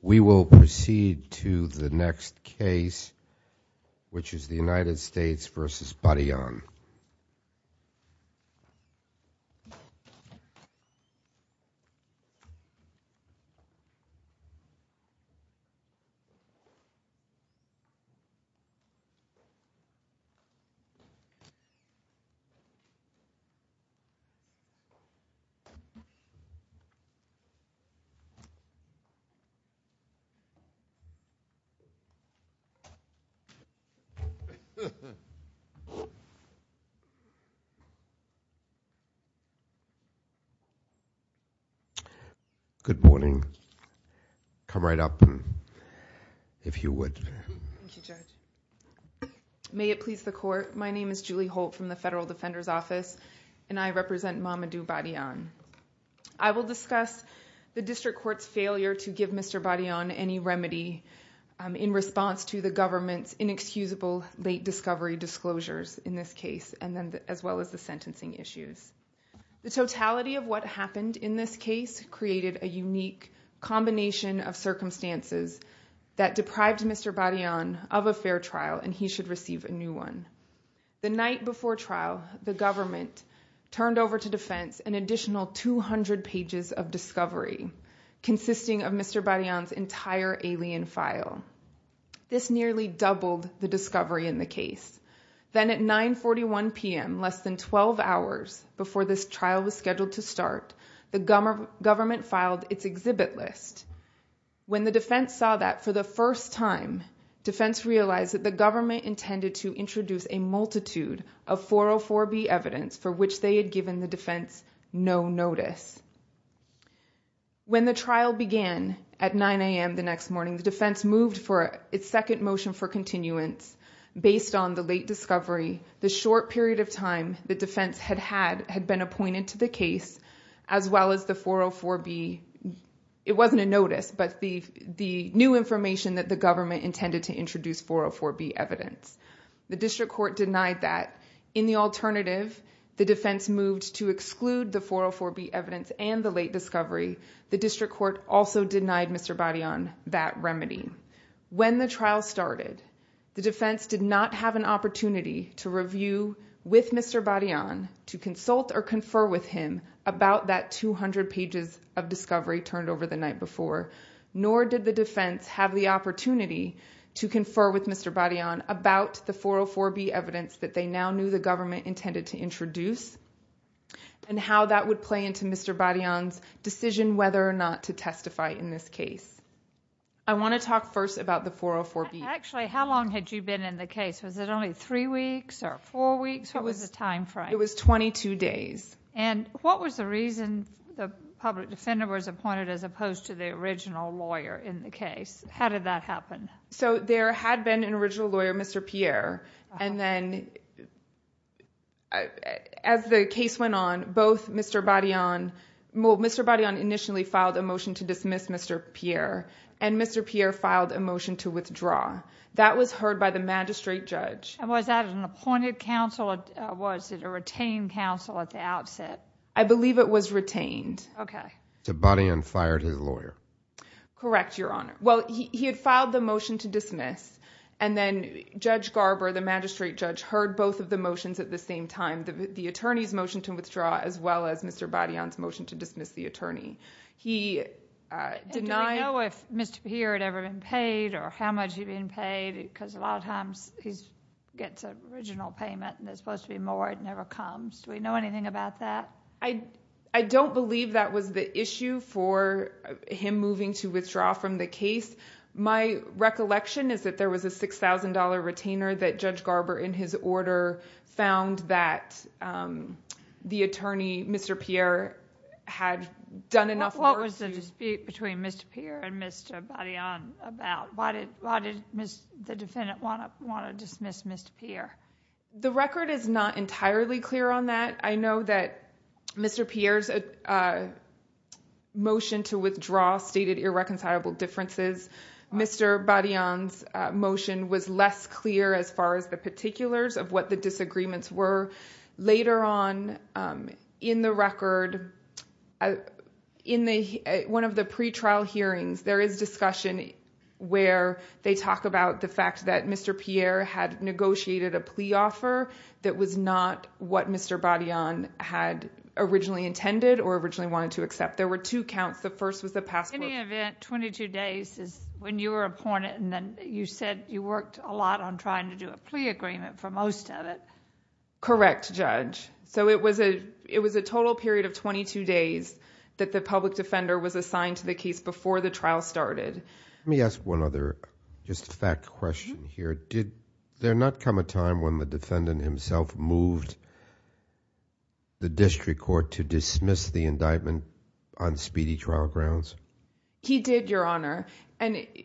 We will proceed to the next case, which is the United States v. Badiane. Good morning. Come right up, if you would. Thank you, Judge. May it please the Court, my name is Julie Holt from the Federal Defender's Office, and I represent Mamadou Badiane. I will discuss the District Court's failure to give Mr. Badiane any remedy in response to the government's inexcusable late discovery disclosures in this case, as well as the sentencing issues. The totality of what happened in this case created a unique combination of circumstances that deprived Mr. Badiane of a fair trial, and he should receive a new one. The night before trial, the government turned over to Defense an additional 200 pages of discovery, consisting of Mr. Badiane's entire alien file. This nearly doubled the discovery in the case. Then, at 9.41 p.m., less than 12 hours before this trial was scheduled to start, the government filed its exhibit list. When the defense saw that for the first time, defense realized that the government intended to introduce a multitude of 404B evidence for which they had given the defense no notice. When the trial began at 9 a.m. the next morning, the defense moved for its second motion for continuance, based on the late discovery, the short period of time the defense had been appointed to the case, as well as the 404B. It wasn't a notice, but the new information that the government intended to introduce 404B evidence. The district court denied that. In the alternative, the defense moved to exclude the 404B evidence and the late discovery. The district court also denied Mr. Badiane that remedy. When the trial started, the defense did not have an opportunity to review with Mr. Badiane, to consult or confer with him about that 200 pages of discovery turned over the night before, nor did the defense have the opportunity to confer with Mr. Badiane about the 404B evidence that they now knew the government intended to introduce, and how that would play into Mr. Badiane's decision whether or not to testify in this case. I want to talk first about the 404B. The 404B was a motion to withdraw. It was heard by the magistrate judge. Was that an appointed counsel or a retained counsel at the outset? I believe it was retained. The 404B was a motion to withdraw. It was heard by the magistrate judge. The 404B was a motion to withdraw. I don't believe that was the issue for him moving to withdraw from the case. My recollection is that there was a $6,000 retainer that Judge Garber in his order found that the attorney, Mr. Pierre, had done enough work to... What was the dispute between Mr. Pierre and Mr. Badiane about? Why did the defendant want to dismiss Mr. Pierre? The record is not entirely clear on that. Mr. Pierre's motion to withdraw stated irreconcilable differences. Mr. Badiane's motion was less clear as far as the particulars of what the disagreements were. Later on in the record, in one of the pretrial hearings, there is discussion where they talk about the fact that Mr. Pierre had negotiated a plea offer that was not what Mr. Badiane had originally intended. There were two counts. The first was the passport... In any event, 22 days is when you were appointed and then you said you worked a lot on trying to do a plea agreement for most of it. Correct, Judge. It was a total period of 22 days that the public defender was assigned to the case before the trial started. Let me ask one other fact question here. Did there not come a time when the defendant himself moved the district court to dismiss the indictment on speedy trial grounds? He did, Your Honor.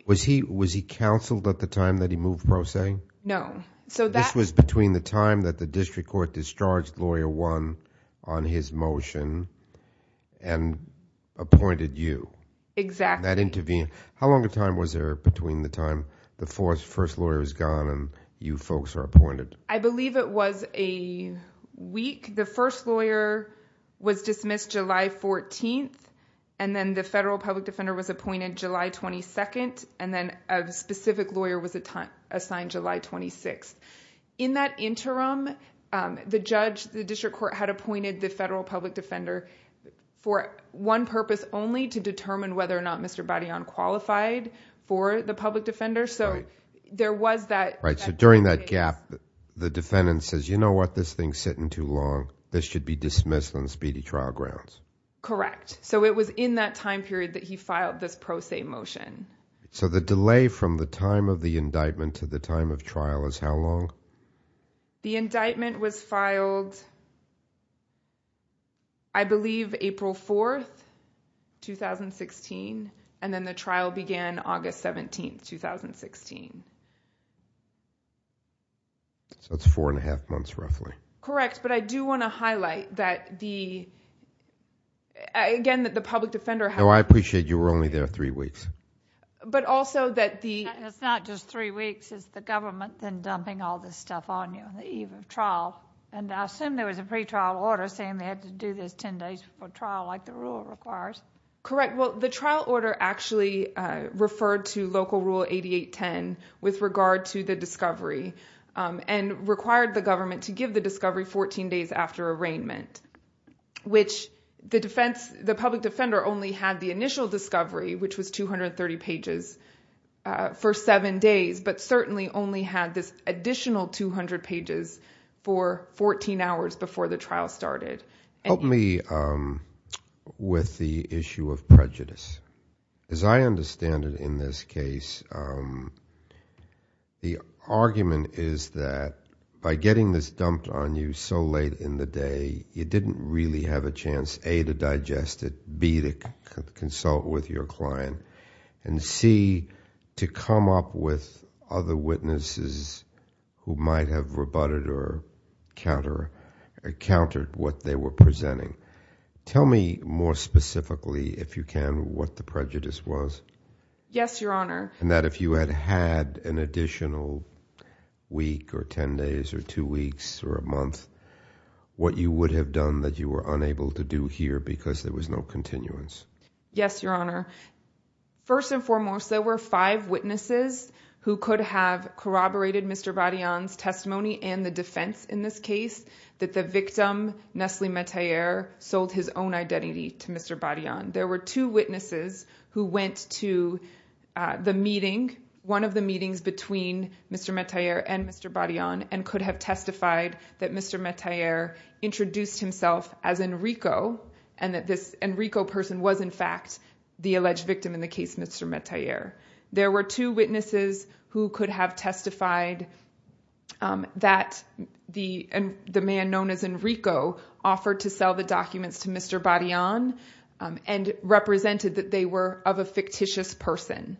Was he counseled at the time that he moved, pro se? No. This was between the time that the district court discharged Lawyer 1 on his motion and appointed you. Exactly. I believe it was a week. The first lawyer was dismissed July 14th and then the federal public defender was appointed July 22nd and then a specific lawyer was assigned July 26th. In that interim, the district court had appointed the federal public defender for one purpose only, to determine whether or not Mr. Badiane qualified for the public defender. During that gap, the defendant says, you know what, this thing is sitting too long. This should be dismissed on speedy trial grounds. Correct. So it was in that time period that he filed this pro se motion. So the delay from the time of the indictment to the time of trial is how long? The indictment was filed, I believe, April 4th, 2016, and then the trial began August 17th, 2016. So it's four and a half months, roughly. I appreciate you were only there three weeks. It's not just three weeks, it's the government dumping all this stuff on you on the eve of trial. I assume there was a pre-trial order saying they had to do this 10 days before trial, like the rule requires. Correct. Well, the trial order actually referred to local rule 8810 with regard to the discovery and required the government to give the discovery 14 days after arraignment, which the public defender only had the initial discovery, which was 230 pages for seven days, but certainly only had this additional 200 pages for 14 hours before the trial started. Help me with the issue of prejudice. As I understand it in this case, the argument is that by getting this dumped on you so late in the day, you didn't really have a chance, A, to digest it, B, to consult with your client, and C, to come up with other witnesses who might have rebutted or countered what they were presenting. Tell me more specifically, if you can, what the prejudice was. Yes, Your Honor. And that if you had had an additional week or 10 days or two weeks or a month, what you would have done that you were unable to do here because there was no continuance? Yes, Your Honor. First and foremost, there were five witnesses who could have corroborated Mr. Barillon's testimony and the defense in this case, that the victim, Nestle Metair, sold his own identity to Mr. Barillon. There were two witnesses who went to the meeting, one of the meetings between Mr. Metair and Mr. Barillon, and could have testified that Mr. Metair introduced himself as Enrico, and that this Enrico person was in fact the alleged victim in the case, Mr. Metair. There were two witnesses who could have testified that the man known as Enrico offered to sell the documents to Mr. Barillon and represented that they were of a fictitious person,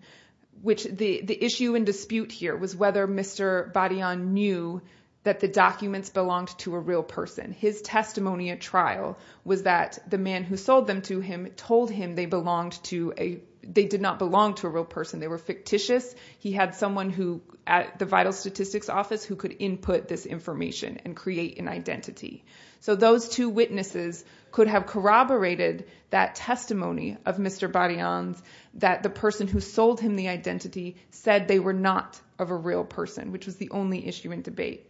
which the issue and dispute here was whether Mr. Barillon knew that the documents belonged to a real person. His testimony at trial was that the man who sold them to him told him they belonged to a, they did not belong to a real person, they were fictitious. He had someone at the vital statistics office who could input this information and create an identity. So those two witnesses could have corroborated that testimony of Mr. Barillon's, that the person who sold him the identity said they were not of a real person, which was the only issue in debate.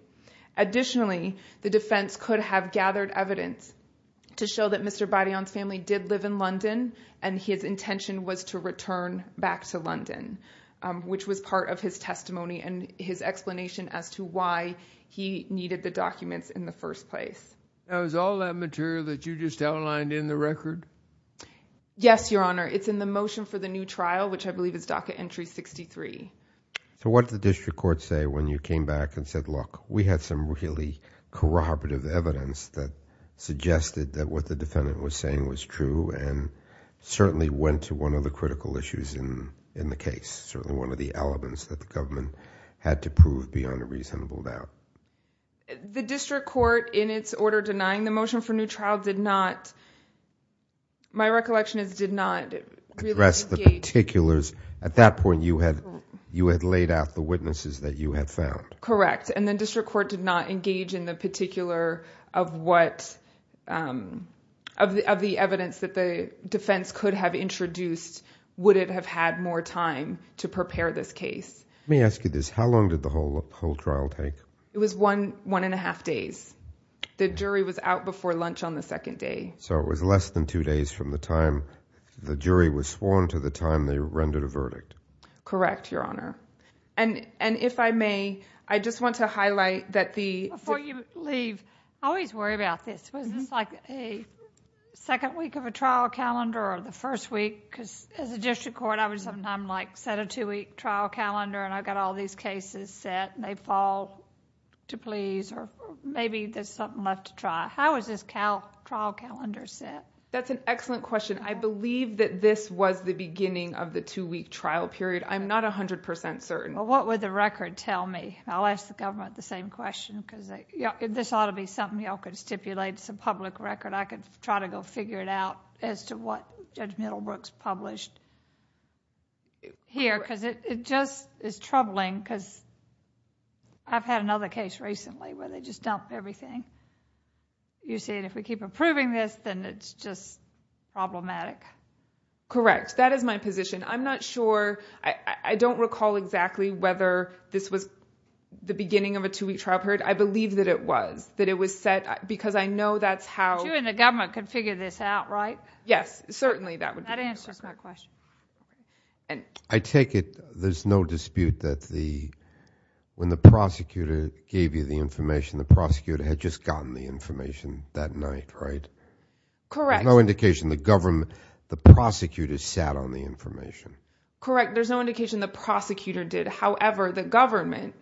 Additionally, the defense could have gathered evidence to show that Mr. Barillon's family did live in London, and his intention was to return back to London, which was part of his testimony and his explanation as to why he needed the documents in the first place. Now is all that material that you just outlined in the record? Yes, Your Honor. It's in the motion for the new trial, which I believe is docket entry 63. So what did the district court say when you came back and said, look, we had some really corroborative evidence that suggested that what the defendant was saying was true and certainly went to one of the critical issues in the case, certainly one of the elements that the government had to prove beyond a reasonable doubt. The district court in its order denying the motion for new trial did not, my recollection is, did not really engage... And the district court did not engage in the particular of what... of the evidence that the defense could have introduced would it have had more time to prepare this case. Let me ask you this. How long did the whole trial take? It was one and a half days. The jury was out before lunch on the second day. So it was less than two days from the time the jury was sworn to the time they rendered a verdict. Correct, Your Honor. And if I may, I just want to highlight that the... Before you leave, I always worry about this. Was this like a second week of a trial calendar or the first week? Because as a district court, I would sometimes set a two-week trial calendar and I've got all these cases set and they fall to pleas or maybe there's something left to try. How is this trial calendar set? That's an excellent question. I believe that this was the beginning of the two-week trial period. I'm not 100% certain. Well, what would the record tell me? I'll ask the government the same question. This ought to be something y'all could stipulate. It's a public record. I could try to go figure it out as to what Judge Middlebrook's published here. Because it just is troubling because I've had another case recently where they just dump everything. You're saying if we keep approving this, then it's just problematic? Correct. That is my position. I'm not sure... I don't recall exactly whether this was the beginning of a two-week trial period. I believe that it was, that it was set because I know that's how... You and the government could figure this out, right? Yes, certainly that would be... That answers my question. I take it there's no dispute that when the prosecutor gave you the information, the prosecutor had just gotten the information that night, right? Correct. There's no indication the government... the prosecutor sat on the information. Correct. There's no indication the prosecutor did. However, the government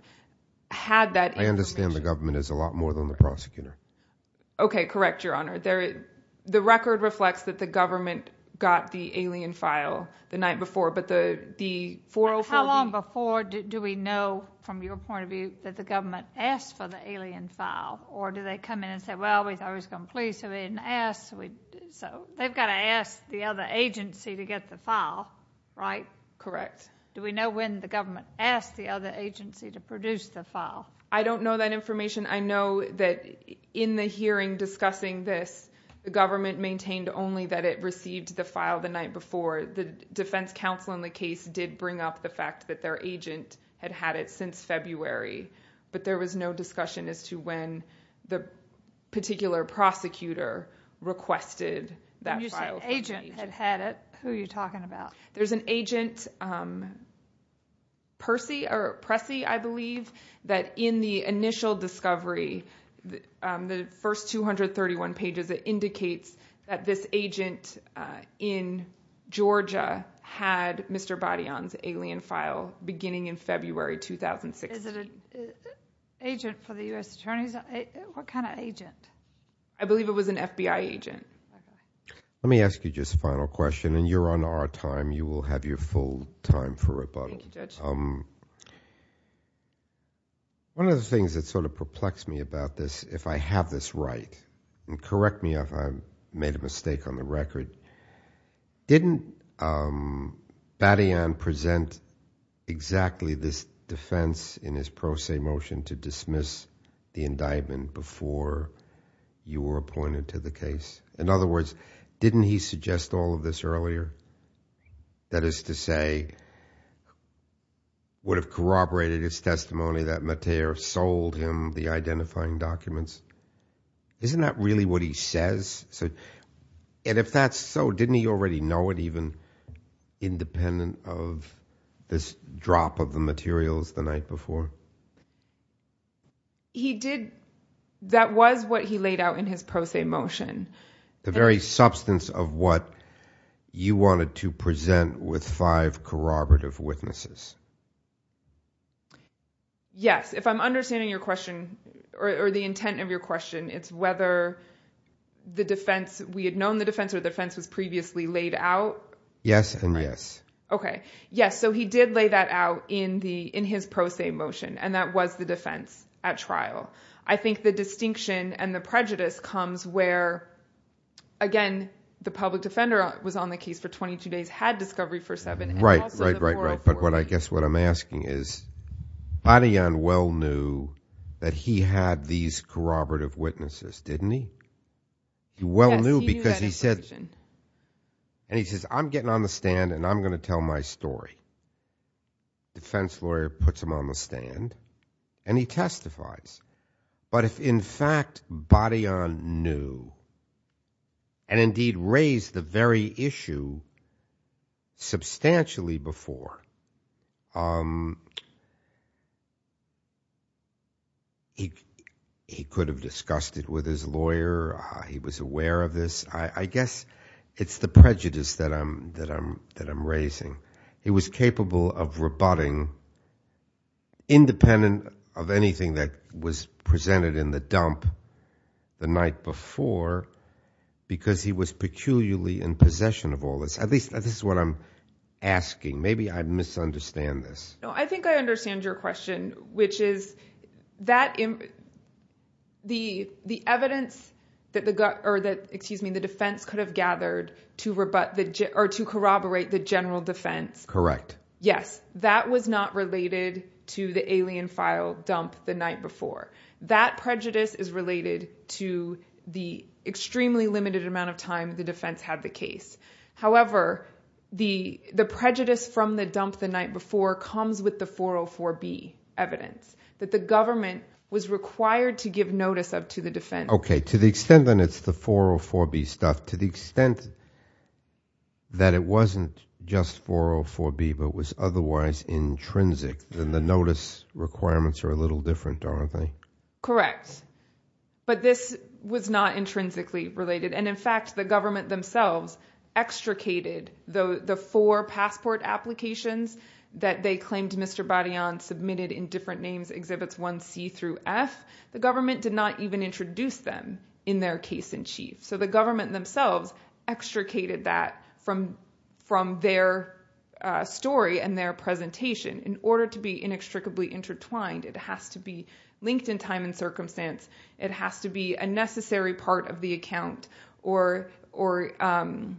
had that information. I understand the government is a lot more than the prosecutor. Okay, correct, Your Honor. The record reflects that the government got the alien file the night before, but the... How long before do we know, from your point of view, that the government asked for the alien file? Or do they come in and say, well, we thought it was complete, so we didn't ask, so we... They've got to ask the other agency to get the file, right? Correct. Do we know when the government asked the other agency to produce the file? I don't know that information. I know that in the hearing discussing this, the government maintained only that it received the file the night before. The defense counsel in the case did bring up the fact that their agent had had it since February, but there was no discussion as to when the particular prosecutor requested that file. When you say agent had had it, who are you talking about? There's an agent, Percy, I believe, that in the initial discovery, the first 231 pages, it indicates that this agent in Georgia had Mr. Badion's alien file beginning in February 2016. Is it an agent for the U.S. attorneys? What kind of agent? I believe it was an FBI agent. Let me ask you just a final question, and you're on our time. You will have your full time for rebuttal. Thank you, Judge. One of the things that sort of perplexed me about this, if I have this right, and correct me if I made a mistake on the record, didn't Badion present exactly this defense in his pro se motion to dismiss the indictment before you were appointed to the case? In other words, didn't he suggest all of this earlier, that is to say, would have corroborated his testimony that Mateo sold him the identifying documents? Isn't that really what he says? And if that's so, didn't he already know it, even independent of this drop of the materials the night before? He did. That was what he laid out in his pro se motion. The very substance of what you wanted to present with five corroborative witnesses. Yes. If I'm understanding your question or the intent of your question, it's whether the defense, we had known the defense or the defense was previously laid out? Yes and yes. Okay. Yes, so he did lay that out in his pro se motion, and that was the defense at trial. I think the distinction and the prejudice comes where, again, the public defender was on the case for 22 days, had discovery for seven. Right, right, right, right, but I guess what I'm asking is, Badion well knew that he had these corroborative witnesses, didn't he? Yes, he knew that information. And he says, I'm getting on the stand, and I'm going to tell my story. Defense lawyer puts him on the stand, and he testifies. But if, in fact, Badion knew and indeed raised the very issue substantially before, he could have discussed it with his lawyer. He was aware of this. I guess it's the prejudice that I'm raising. He was capable of rebutting independent of anything that was presented in the dump the night before because he was peculiarly in possession of all this. At least this is what I'm asking. Maybe I misunderstand this. No, I think I understand your question, which is the evidence that the defense could have gathered to corroborate the general defense. Correct. Yes, that was not related to the alien file dump the night before. That prejudice is related to the extremely limited amount of time the defense had the case. However, the prejudice from the dump the night before comes with the 404B evidence, that the government was required to give notice to the defense. Okay, to the extent that it's the 404B stuff, to the extent that it wasn't just 404B but was otherwise intrinsic, then the notice requirements are a little different, aren't they? Correct. But this was not intrinsically related. And, in fact, the government themselves extricated the four passport applications that they claimed Mr. Barillon submitted in different names, Exhibits 1C through F. The government did not even introduce them in their case in chief. So the government themselves extricated that from their story and their presentation. In order to be inextricably intertwined, it has to be linked in time and circumstance. It has to be a necessary part of the account or an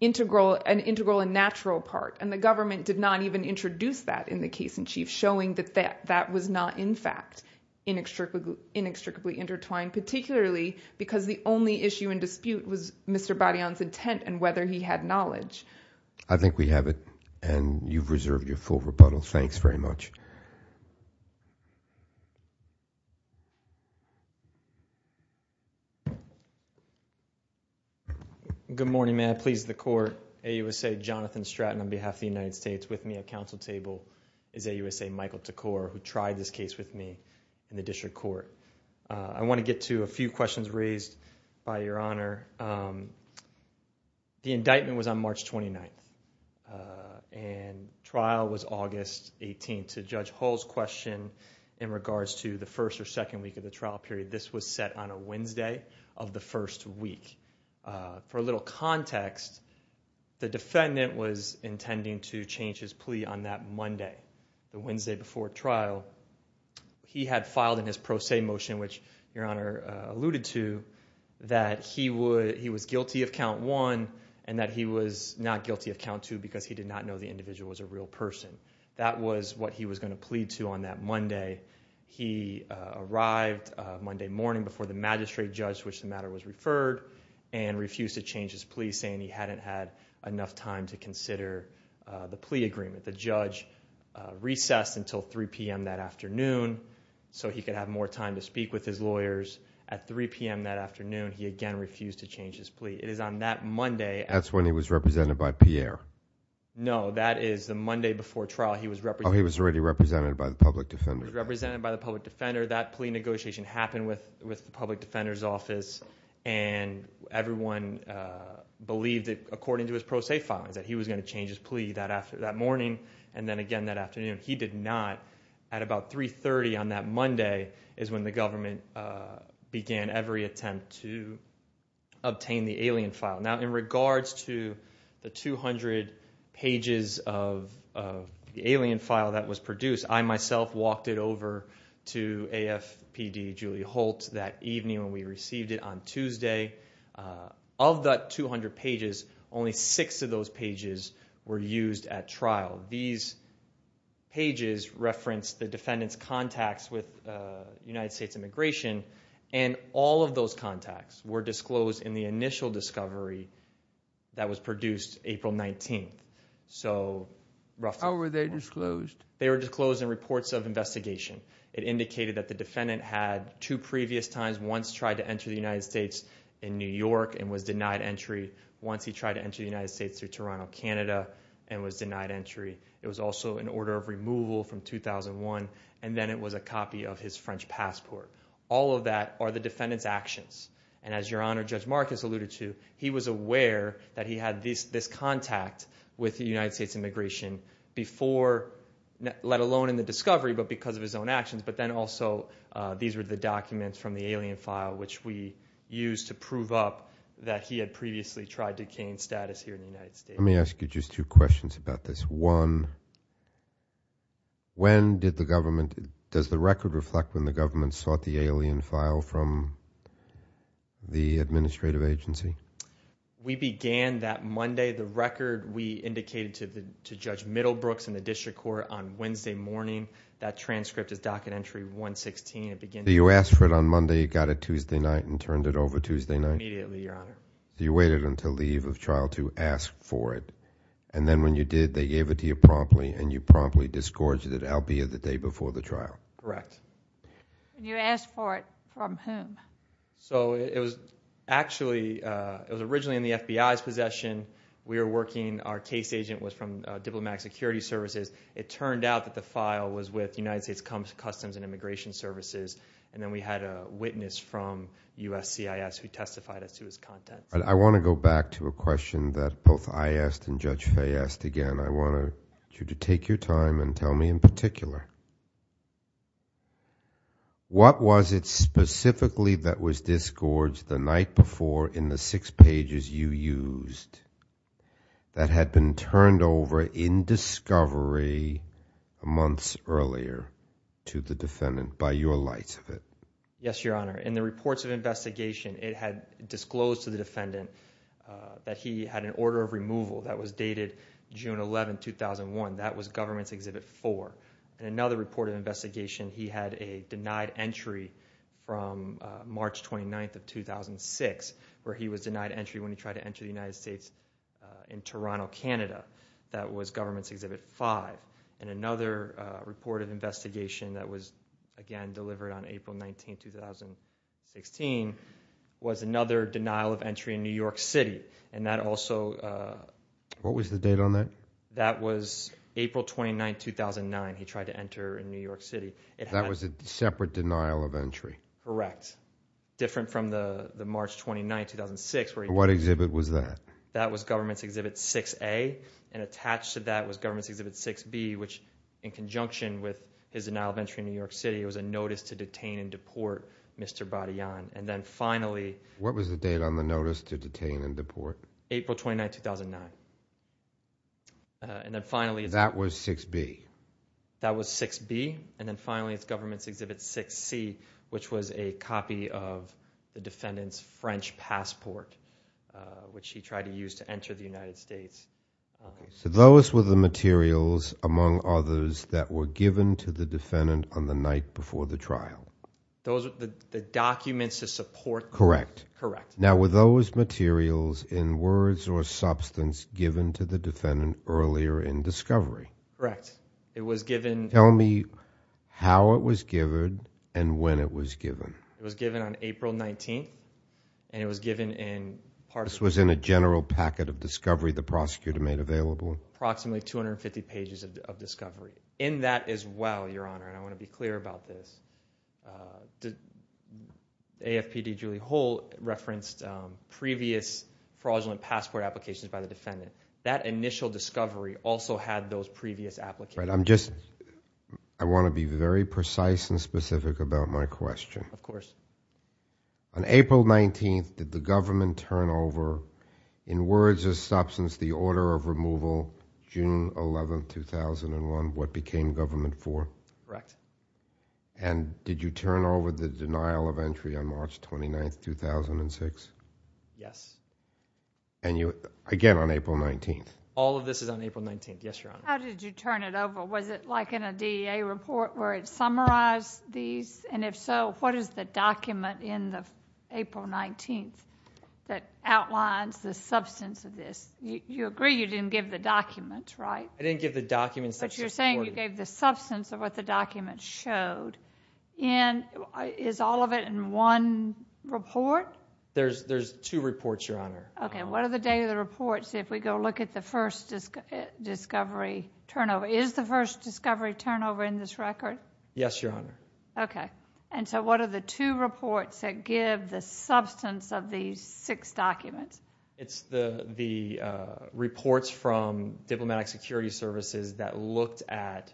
integral and natural part. And the government did not even introduce that in the case in chief, showing that that was not, in fact, inextricably intertwined, particularly because the only issue in dispute was Mr. Barillon's intent and whether he had knowledge. I think we have it, and you've reserved your full rebuttal. Thanks very much. Good morning. May I please the court. AUSA Jonathan Stratton on behalf of the United States. With me at council table is AUSA Michael Takor, who tried this case with me in the district court. I want to get to a few questions raised by Your Honor. The indictment was on March 29th, and trial was August 18th. To Judge Hall's question in regards to the first or second week of the trial period, this was set on a Wednesday of the first week. For a little context, the defendant was intending to change his plea on that Monday, the Wednesday before trial. He had filed in his pro se motion, which Your Honor alluded to, that he was guilty of count one and that he was not guilty of count two because he did not know the individual was a real person. That was what he was going to plead to on that Monday. He arrived Monday morning before the magistrate judge to which the matter was referred and refused to change his plea, saying he hadn't had enough time to consider the plea agreement. The judge recessed until 3 p.m. that afternoon so he could have more time to speak with his lawyers. At 3 p.m. that afternoon, he again refused to change his plea. It is on that Monday- That's when he was represented by Pierre. No, that is the Monday before trial. He was already represented by the public defender. He was represented by the public defender. That plea negotiation happened with the public defender's office, and everyone believed, according to his pro se filing, that he was going to change his plea that morning and then again that afternoon. He did not. At about 3.30 on that Monday is when the government began every attempt to obtain the alien file. Now, in regards to the 200 pages of the alien file that was produced, I myself walked it over to AFPD Julie Holt that evening when we received it on Tuesday. Of that 200 pages, only six of those pages were used at trial. These pages referenced the defendant's contacts with United States immigration, and all of those contacts were disclosed in the initial discovery that was produced April 19. So, roughly- How were they disclosed? They were disclosed in reports of investigation. It indicated that the defendant had two previous times once tried to enter the United States in New York and was denied entry. Once he tried to enter the United States through Toronto, Canada and was denied entry. It was also an order of removal from 2001, and then it was a copy of his French passport. All of that are the defendant's actions, and as Your Honor, Judge Marcus alluded to, he was aware that he had this contact with the United States immigration before, let alone in the discovery, but because of his own actions. But then also, these were the documents from the alien file, which we used to prove up that he had previously tried to gain status here in the United States. Let me ask you just two questions about this. One, when did the government – Does the record reflect when the government sought the alien file from the administrative agency? We began that Monday. The record we indicated to Judge Middlebrooks in the district court on Wednesday morning. That transcript is docket entry 116. You asked for it on Monday, got it Tuesday night, and turned it over Tuesday night? Immediately, Your Honor. You waited until the eve of trial to ask for it, and then when you did, they gave it to you promptly, and you promptly disgorged it albeit the day before the trial? Correct. You asked for it from whom? So it was actually – it was originally in the FBI's possession. We were working – our case agent was from Diplomatic Security Services. It turned out that the file was with United States Customs and Immigration Services, and then we had a witness from USCIS who testified as to his contents. I want to go back to a question that both I asked and Judge Fay asked again. I want you to take your time and tell me in particular. What was it specifically that was disgorged the night before in the six pages you used that had been turned over in discovery months earlier to the defendant by your lights of it? Yes, Your Honor. In the reports of investigation, it had disclosed to the defendant that he had an order of removal that was dated June 11, 2001. That was Government's Exhibit 4. In another report of investigation, he had a denied entry from March 29 of 2006 where he was denied entry when he tried to enter the United States in Toronto, Canada. That was Government's Exhibit 5. In another report of investigation that was, again, delivered on April 19, 2016, was another denial of entry in New York City. What was the date on that? That was April 29, 2009. He tried to enter in New York City. That was a separate denial of entry. Correct. Different from the March 29, 2006. What exhibit was that? That was Government's Exhibit 6A and attached to that was Government's Exhibit 6B which in conjunction with his denial of entry in New York City was a notice to detain and deport Mr. Badyan. What was the date on the notice to detain and deport? April 29, 2009. That was 6B. That was 6B. Then finally it's Government's Exhibit 6C which was a copy of the defendant's French passport which he tried to use to enter the United States. Those were the materials, among others, that were given to the defendant on the night before the trial. The documents to support that. Correct. Now were those materials in words or substance given to the defendant earlier in discovery? Correct. It was given... Tell me how it was given and when it was given. It was given on April 19 and it was given in... This was in a general packet of discovery the prosecutor made available? Approximately 250 pages of discovery. In that as well, Your Honor, and I want to be clear about this, AFPD Julie Hull referenced previous fraudulent passport applications by the defendant. That initial discovery also had those previous applications. I want to be very precise and specific about my question. Of course. On April 19, did the government turn over, in words or substance, the order of removal, June 11, 2001, what became government for? Correct. Did you turn over the denial of entry on March 29, 2006? Yes. Again, on April 19? All of this is on April 19, yes, Your Honor. How did you turn it over? Was it like in a DEA report where it summarized these? If so, what is the document in April 19 that outlines the substance of this? You agree you didn't give the documents, right? I didn't give the documents. But you're saying you gave the substance of what the documents showed. Is all of it in one report? There's two reports, Your Honor. Okay. What are the data reports if we go look at the first discovery turnover? Is the first discovery turnover in this record? Yes, Your Honor. Okay. And so what are the two reports that give the substance of these six documents? It's the reports from diplomatic security services that looked at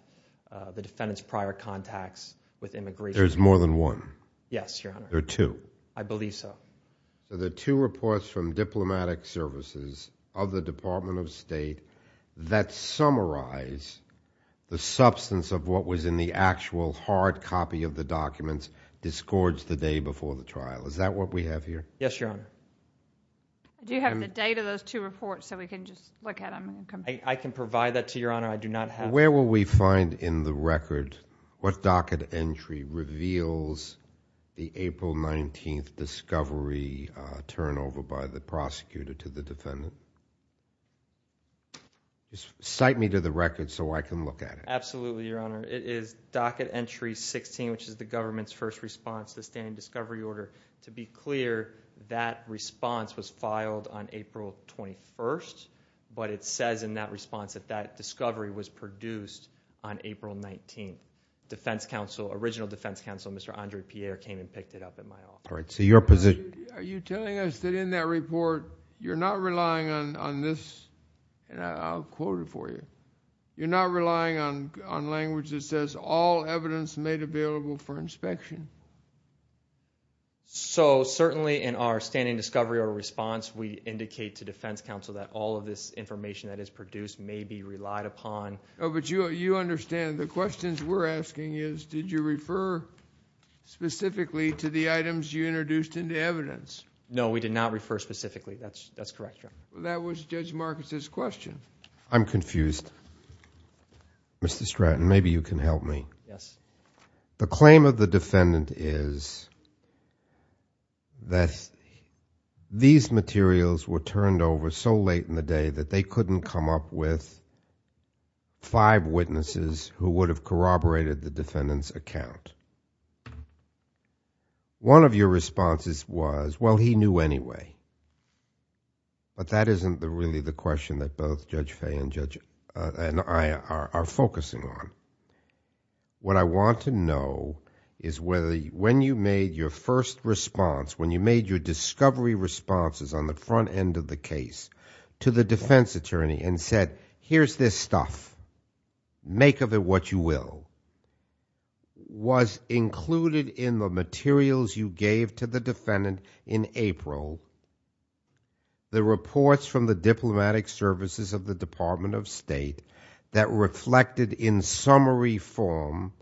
the defendant's prior contacts with immigration. There's more than one? Yes, Your Honor. There are two? I believe so. The two reports from diplomatic services of the Department of State that summarize the substance of what was in the actual hard copy of the documents disgorged the day before the trial. Is that what we have here? Yes, Your Honor. Do you have the date of those two reports so we can just look at them? I can provide that to you, Your Honor. I do not have it. Where will we find in the record what docket entry reveals the April 19th discovery turnover by the prosecutor to the defendant? Cite me to the record so I can look at it. Absolutely, Your Honor. It is docket entry 16, which is the government's first response to the standing discovery order. To be clear, that response was filed on April 21st, but it says in that response that that discovery was produced on April 19th. Original defense counsel, Mr. Andre Pierre, came and picked it up at my office. Are you telling us that in that report you're not relying on this? I'll quote it for you. You're not relying on language that says, all evidence made available for inspection. Certainly, in our standing discovery order response, we indicate to defense counsel that all of this information that is produced may be relied upon. You understand the questions we're asking is, did you refer specifically to the items you introduced into evidence? No, we did not refer specifically. That's correct, Your Honor. That was Judge Marcus' question. I'm confused. Mr. Stratton, maybe you can help me. Yes. The claim of the defendant is that these materials were turned over so late in the day that they couldn't come up with five witnesses who would have corroborated the defendant's account. One of your responses was, well, he knew anyway, but that isn't really the question that both Judge Fay and I are focusing on. What I want to know is when you made your first response, when you made your discovery responses on the front end of the case to the defense attorney and said, here's this stuff, make of it what you will, was included in the materials you gave to the defendant in April, the reports from the diplomatic services of the Department of State that reflected in summary form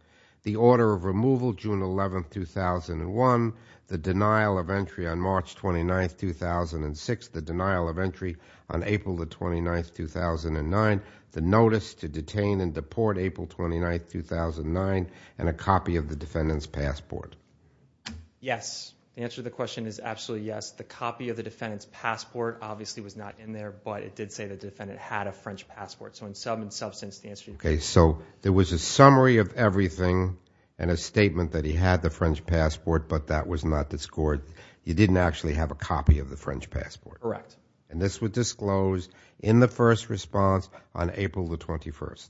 the order of removal June 11, 2001, the denial of entry on March 29, 2006, the denial of entry on April 29, 2009, the notice to detain and deport April 29, 2009, and a copy of the defendant's passport. Yes. The answer to the question is absolutely yes. The copy of the defendant's passport obviously was not in there, but it did say the defendant had a French passport. So in sum and substance, the answer to your question is yes. Okay. So there was a summary of everything and a statement that he had the French passport, but that was not the score. You didn't actually have a copy of the French passport. Correct. And this was disclosed in the first response on April the 21st.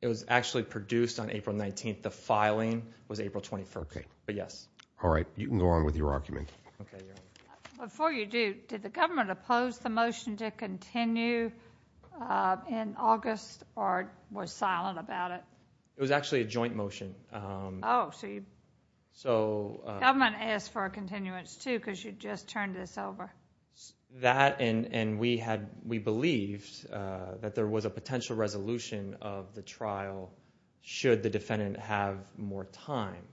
It was actually produced on April 19th. The filing was April 24th. Okay. But yes. All right. You can go on with your argument. Okay. Before you do, did the government oppose the motion to continue in August or was silent about it? It was actually a joint motion. Oh, so you – So – The government asked for a continuance too because you just turned this over. That and we had – we believed that there was a potential resolution of the trial should the defendant have more time.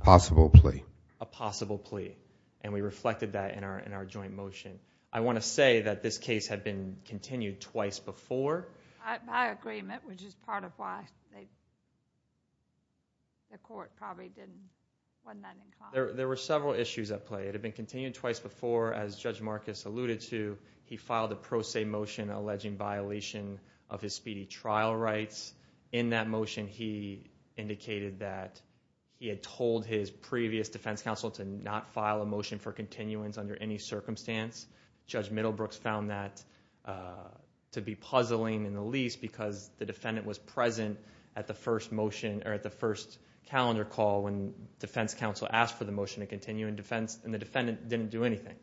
Possible plea. A possible plea. And we reflected that in our joint motion. I want to say that this case had been continued twice before. My agreement, which is part of why the court probably didn't – There were several issues at play. It had been continued twice before. As Judge Marcus alluded to, he filed a pro se motion alleging violation of his speedy trial rights. In that motion, he indicated that he had told his previous defense counsel to not file a motion for continuance under any circumstance. Judge Middlebrooks found that to be puzzling in the least because the defendant was present at the first motion or at the first calendar call when defense counsel asked for the motion to continue and the defendant didn't do anything.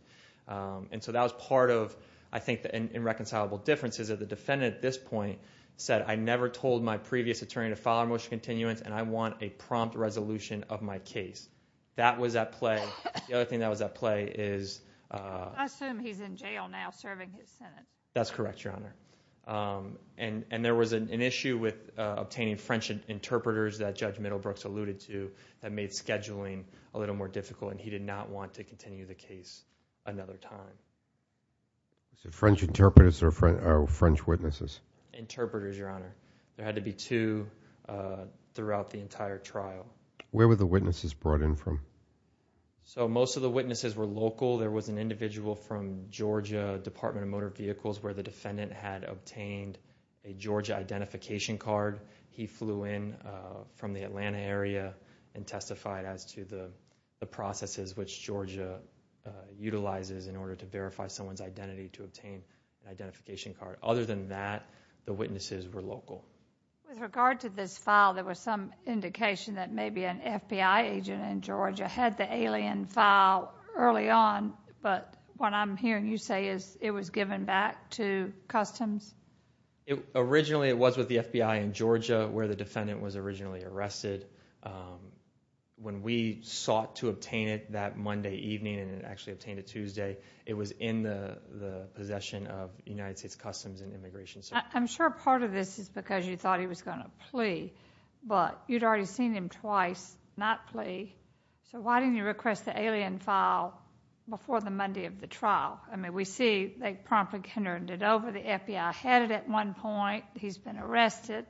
And so that was part of, I think, the irreconcilable differences that the defendant at this point said, I never told my previous attorney to file a motion for continuance and I want a prompt resolution of my case. That was at play. The other thing that was at play is – I assume he's in jail now serving his sentence. That's correct, Your Honor. And there was an issue with obtaining French interpreters that Judge Middlebrooks alluded to that made scheduling a little more difficult and he did not want to continue the case another time. So French interpreters or French witnesses? Interpreters, Your Honor. There had to be two throughout the entire trial. Where were the witnesses brought in from? So most of the witnesses were local. There was an individual from Georgia Department of Motor Vehicles where the defendant had obtained a Georgia identification card. He flew in from the Atlanta area and testified as to the processes which Georgia utilizes in order to verify someone's identity to obtain an identification card. Other than that, the witnesses were local. With regard to this file, there was some indication that maybe an FBI agent in Georgia had the alien file early on, but what I'm hearing you say is it was given back to Customs? Originally it was with the FBI in Georgia where the defendant was originally arrested. When we sought to obtain it that Monday evening and actually obtained it Tuesday, it was in the possession of the United States Customs and Immigration Service. I'm sure part of this is because you thought he was going to plea, but you'd already seen him twice not plea, so why didn't you request the alien file before the Monday of the trial? We see they promptly turned it over. The FBI had it at one point. He's been arrested.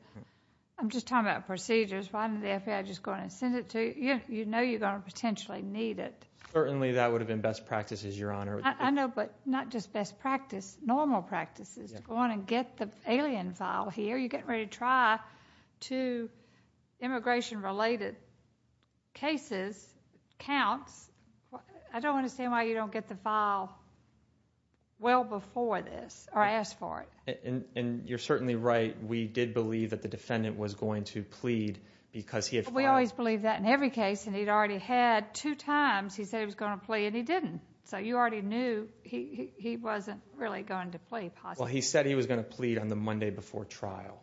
I'm just talking about procedures. Why didn't the FBI just go in and send it to you? You know you're going to potentially need it. Certainly that would have been best practices, Your Honor. I know, but not just best practice, normal practices. To go in and get the alien file here, you're getting ready to try two immigration-related cases, counts. I don't understand why you don't get the file well before this or ask for it. You're certainly right. We did believe that the defendant was going to plead because he had filed. We always believe that in every case, and he'd already had two times he said he was going to plea and he didn't. So you already knew he wasn't really going to plea possibly. He said he was going to plead on the Monday before trial,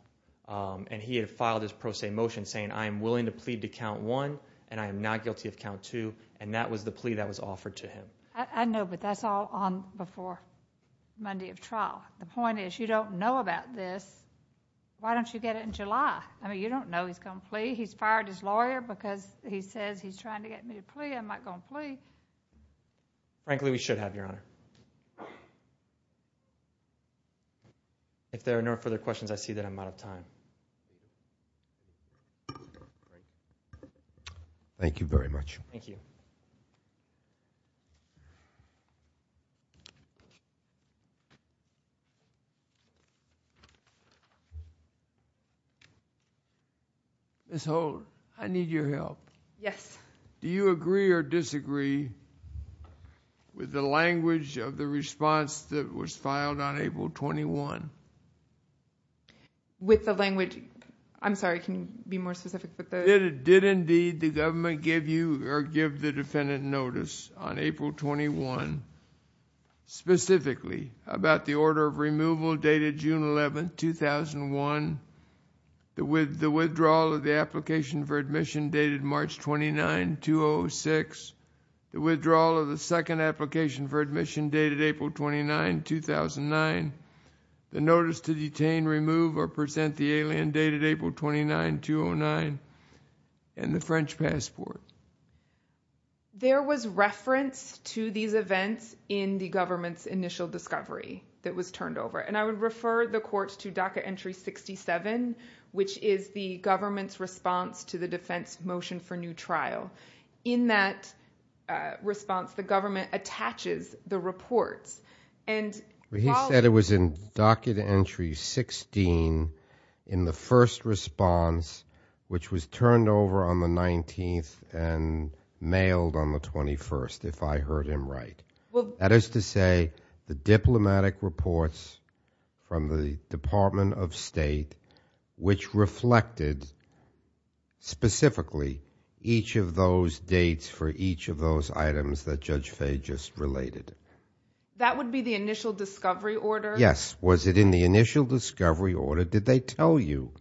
and he had filed his pro se motion saying, I am willing to plead to count one and I am not guilty of count two, and that was the plea that was offered to him. I know, but that's all on before Monday of trial. The point is you don't know about this. Why don't you get it in July? I mean, you don't know he's going to plea. He's fired his lawyer because he says he's trying to get me to plea. Frankly, we should have, Your Honor. If there are no further questions, I see that I'm out of time. Thank you very much. Thank you. Ms. Holt, I need your help. Yes. Do you agree or disagree with the language of the response that was filed on April 21? With the language? I'm sorry, can you be more specific? Did indeed the government give you or give the defendant notice on April 21 specifically about the order of removal dated June 11, 2001, the withdrawal of the application for admission dated March 29, 2006, the withdrawal of the second application for admission dated April 29, 2009, the notice to detain, remove, or present the alien dated April 29, 2009, and the French passport? There was reference to these events in the government's initial discovery that was turned over, and I would refer the court to docket entry 67, which is the government's response to the defense motion for new trial. In that response, the government attaches the reports. He said it was in docket entry 16 in the first response, which was turned over on the 19th and mailed on the 21st, if I heard him right. That is to say the diplomatic reports from the Department of State which reflected specifically each of those dates for each of those items that Judge Faye just related. That would be the initial discovery order? Yes. Was it in the initial discovery order? Did they tell you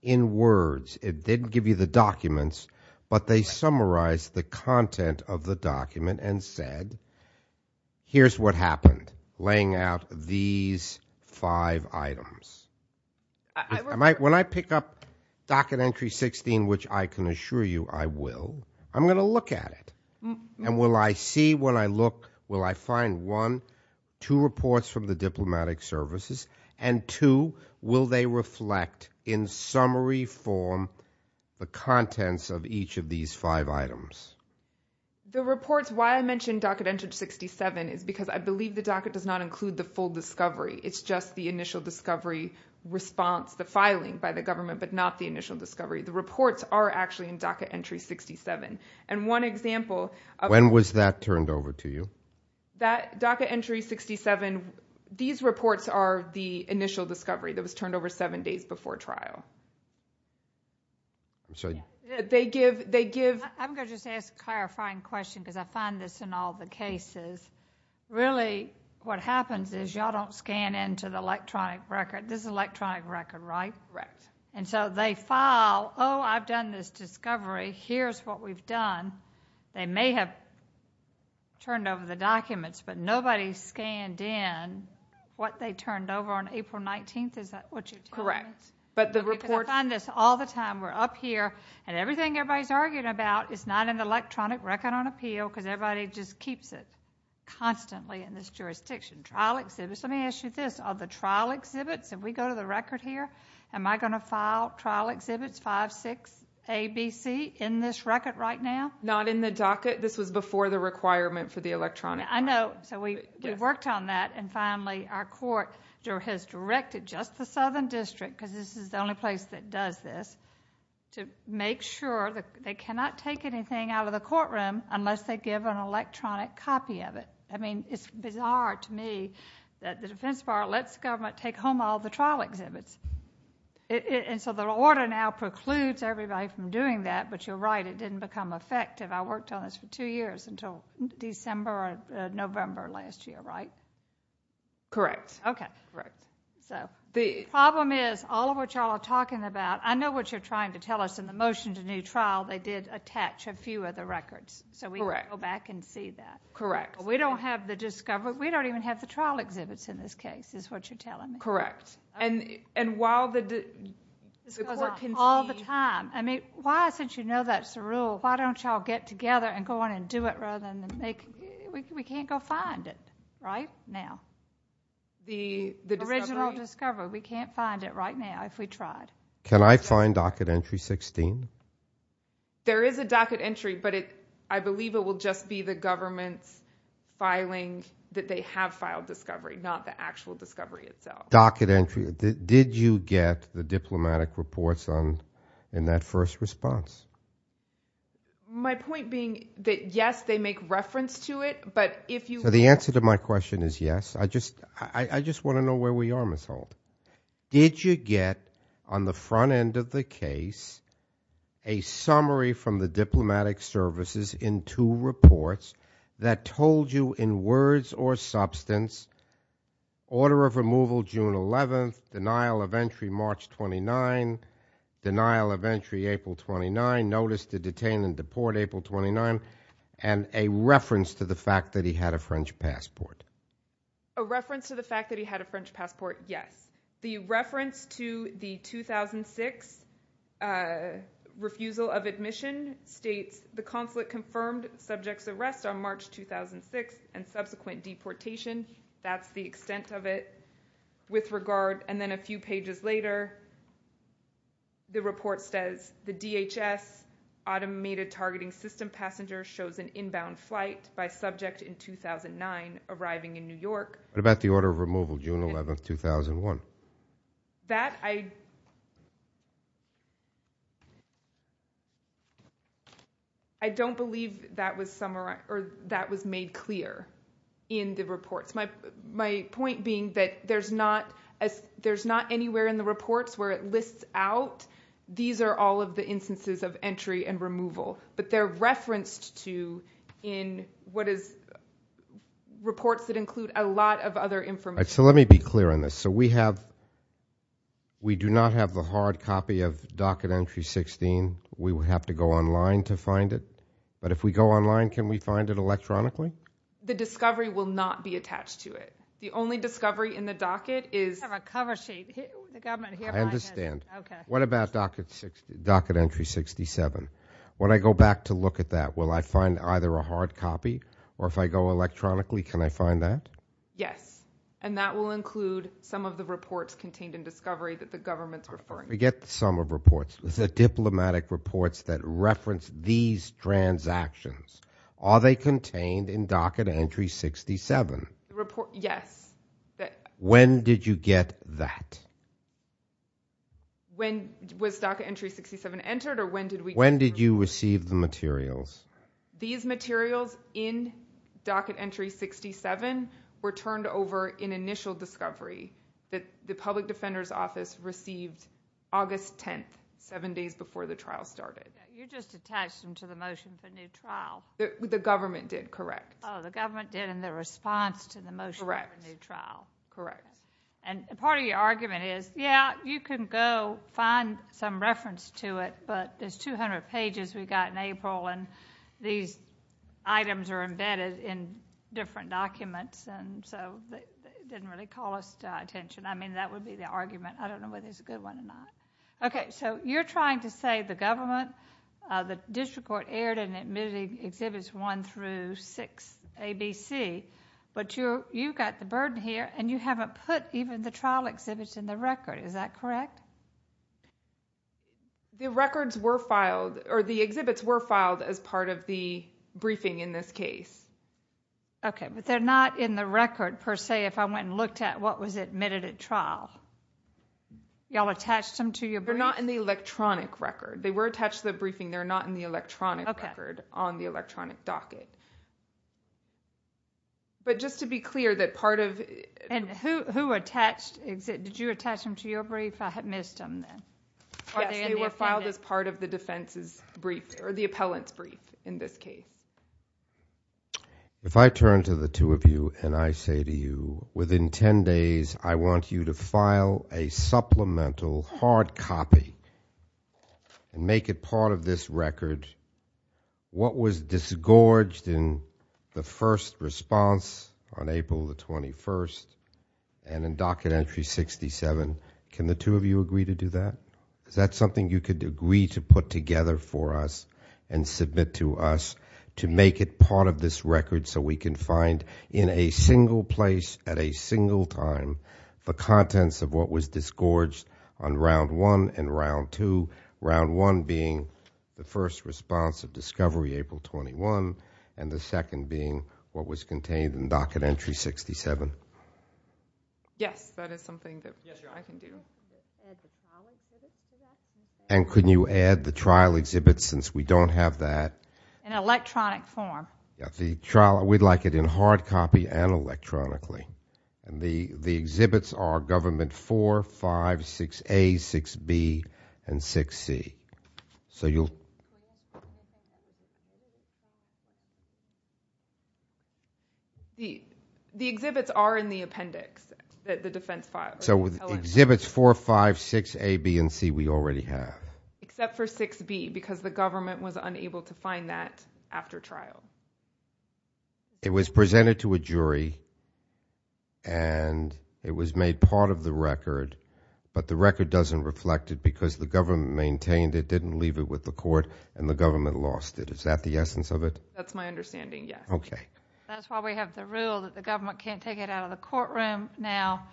in words? It didn't give you the documents, but they summarized the content of the document and said here's what happened laying out these five items. When I pick up docket entry 16, which I can assure you I will, I'm going to look at it, and will I see when I look, will I find one, two reports from the diplomatic services, and two, will they reflect in summary form the contents of each of these five items? The reports, why I mentioned docket entry 67 is because I believe the docket does not include the full discovery. It's just the initial discovery response, the filing by the government, but not the initial discovery. The reports are actually in docket entry 67. When was that turned over to you? Docket entry 67, these reports are the initial discovery that was turned over seven days before trial. They give... I'm going to just ask a clarifying question because I find this in all the cases. Really what happens is you all don't scan into the electronic record. This is electronic record, right? Correct. They file, oh, I've done this discovery. Here's what we've done. They may have turned over the documents, but nobody scanned in what they turned over on April 19th. Is that what you're telling us? I find this all the time. We're up here, and everything everybody's arguing about is not in the electronic record on appeal because everybody just keeps it constantly in this jurisdiction. Trial exhibits, let me ask you this. Of the trial exhibits, if we go to the record here, am I going to file trial exhibits 56A, B, C in this record right now? Not in the docket. This was before the requirement for the electronic record. I know, so we worked on that, and finally our court has directed just the Southern District, because this is the only place that does this, to make sure that they cannot take anything out of the courtroom unless they give an electronic copy of it. It's bizarre to me that the Defense Bar lets the government take home all the trial exhibits. The order now precludes everybody from doing that, but you're right, it didn't become effective. I worked on this for two years, until December or November last year, right? Correct. Okay. Correct. The problem is, all of what you all are talking about, I know what you're trying to tell us. In the motion to new trial, they did attach a few of the records, so we can go back and see that. Correct. We don't have the discovery. We don't even have the trial exhibits in this case, is what you're telling me. Correct. And while the court can see... All the time. I mean, why, since you know that's the rule, why don't you all get together and go on and do it rather than... We can't go find it right now. The original discovery, we can't find it right now if we tried. Can I find docket entry 16? There is a docket entry, but I believe it will just be the government's filing that they have filed discovery, not the actual discovery itself. Docket entry. Did you get the diplomatic reports in that first response? My point being that, yes, they make reference to it, but if you... The answer to my question is yes. I just want to know where we are, Ms. Holt. Did you get on the front end of the case a summary from the diplomatic services in two reports that told you in words or substance order of removal June 11th, denial of entry March 29th, denial of entry April 29th, notice to detain and deport April 29th, and a reference to the fact that he had a French passport? A reference to the fact that he had a French passport, yes. The reference to the 2006 refusal of admission states the consulate confirmed the subject's arrest on March 2006 and subsequent deportation. That's the extent of it with regard. And then a few pages later the report says the DHS automated targeting system passenger shows an inbound flight by subject in 2009 arriving in New York. What about the order of removal June 11th, 2001? That I don't believe that was made clear in the reports. My point being that there's not anywhere in the reports where it lists out these are all of the instances of entry and removal, but they're referenced to in reports that include a lot of other information. So let me be clear on this. So we do not have the hard copy of docket entry 16. We would have to go online to find it. But if we go online, can we find it electronically? The discovery will not be attached to it. The only discovery in the docket is the government. I understand. Okay. What about docket entry 67? When I go back to look at that, will I find either a hard copy? Or if I go electronically, can I find that? Yes. And that will include some of the reports contained in discovery that the government's referring to. I forget the sum of reports. The diplomatic reports that reference these transactions, are they contained in docket entry 67? Yes. When did you get that? Was docket entry 67 entered or when did we get it? When did you receive the materials? These materials in docket entry 67 were turned over in initial discovery that the Public Defender's Office received August 10th, seven days before the trial started. You just attached them to the motion for a new trial. The government did, correct. Oh, the government did in the response to the motion for a new trial. Correct. Part of your argument is, yeah, you can go find some reference to it, but there's 200 pages we got in April, and these items are embedded in different documents, and so it didn't really call us to attention. I mean, that would be the argument. I don't know whether it's a good one or not. Okay, so you're trying to say the government, the district court aired and admitted Exhibits 1 through 6 ABC, but you've got the burden here, and you haven't put even the trial exhibits in the record. Is that correct? The records were filed, or the exhibits were filed as part of the briefing in this case. Okay, but they're not in the record, per se, if I went and looked at what was admitted at trial. Y'all attached them to your brief? They're not in the electronic record. They were attached to the briefing. They're not in the electronic record on the electronic docket. But just to be clear, that part of... And who attached? Did you attach them to your brief? I had missed them then. Yes, they were filed as part of the defense's brief, or the appellant's brief in this case. If I turn to the two of you and I say to you, within 10 days I want you to file a supplemental hard copy and make it part of this record, what was disgorged in the first response on April the 21st and in Docket Entry 67, can the two of you agree to do that? Is that something you could agree to put together for us and submit to us to make it part of this record so we can find in a single place at a single time the contents of what was disgorged on Round 1 and Round 2, Round 1 being the first response of discovery, April 21, and the second being what was contained in Docket Entry 67? Yes, that is something that I can do. And can you add the trial exhibits since we don't have that? In electronic form. We'd like it in hard copy and electronically. The exhibits are Government 4, 5, 6A, 6B, and 6C. So you'll... The exhibits are in the appendix, the defense file. So with exhibits 4, 5, 6A, B, and C we already have. Except for 6B because the Government was unable to find that after trial. It was presented to a jury and it was made part of the record, but the record doesn't reflect it because the Government maintained it, didn't leave it with the court, and the Government lost it. Is that the essence of it? That's my understanding, yes. Okay. That's why we have the rule that the Government can't take it out of the courtroom now.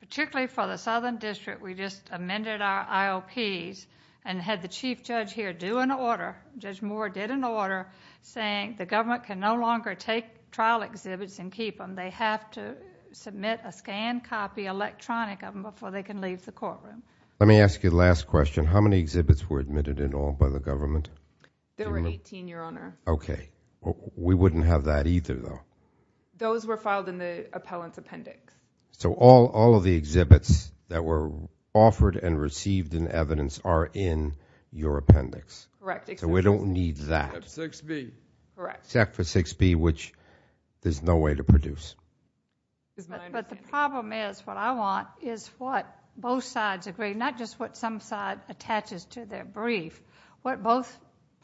Particularly for the Southern District, we just amended our IOPs and had the Chief Judge here do an order, Judge Moore did an order, saying the Government can no longer take trial exhibits and keep them. They have to submit a scanned copy, electronic of them, before they can leave the courtroom. Let me ask you the last question. How many exhibits were admitted in all by the Government? There were 18, Your Honor. Okay. We wouldn't have that either, though. Those were filed in the appellant's appendix. So all of the exhibits that were offered and received in evidence are in your appendix. Correct. So we don't need that. Except for 6B. Correct. Except for 6B, which there's no way to produce. But the problem is what I want is what both sides agree, not just what some side attaches to their brief. What both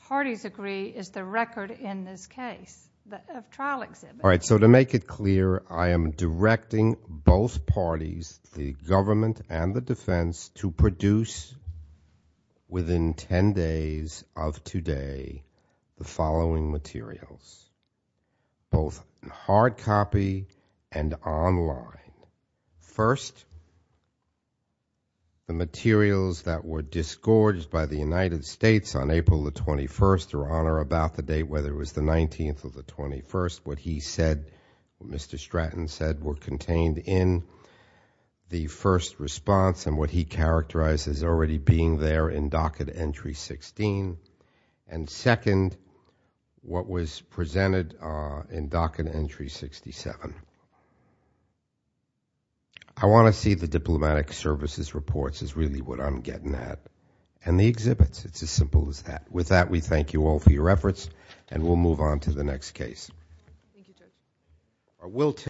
parties agree is the record in this case of trial exhibits. All right. So to make it clear, I am directing both parties, the Government and the defense, to produce within 10 days of today the following materials, both hard copy and online. First, the materials that were disgorged by the United States on April 21st, Your Honor, about the date, whether it was the 19th or the 21st, what he said, what Mr. Stratton said, were contained in the first response and what he characterized as already being there in Docket Entry 16. And second, what was presented in Docket Entry 67. I want to see the diplomatic services reports is really what I'm getting at, and the exhibits. It's as simple as that. With that, we thank you all for your efforts, and we'll move on to the next case.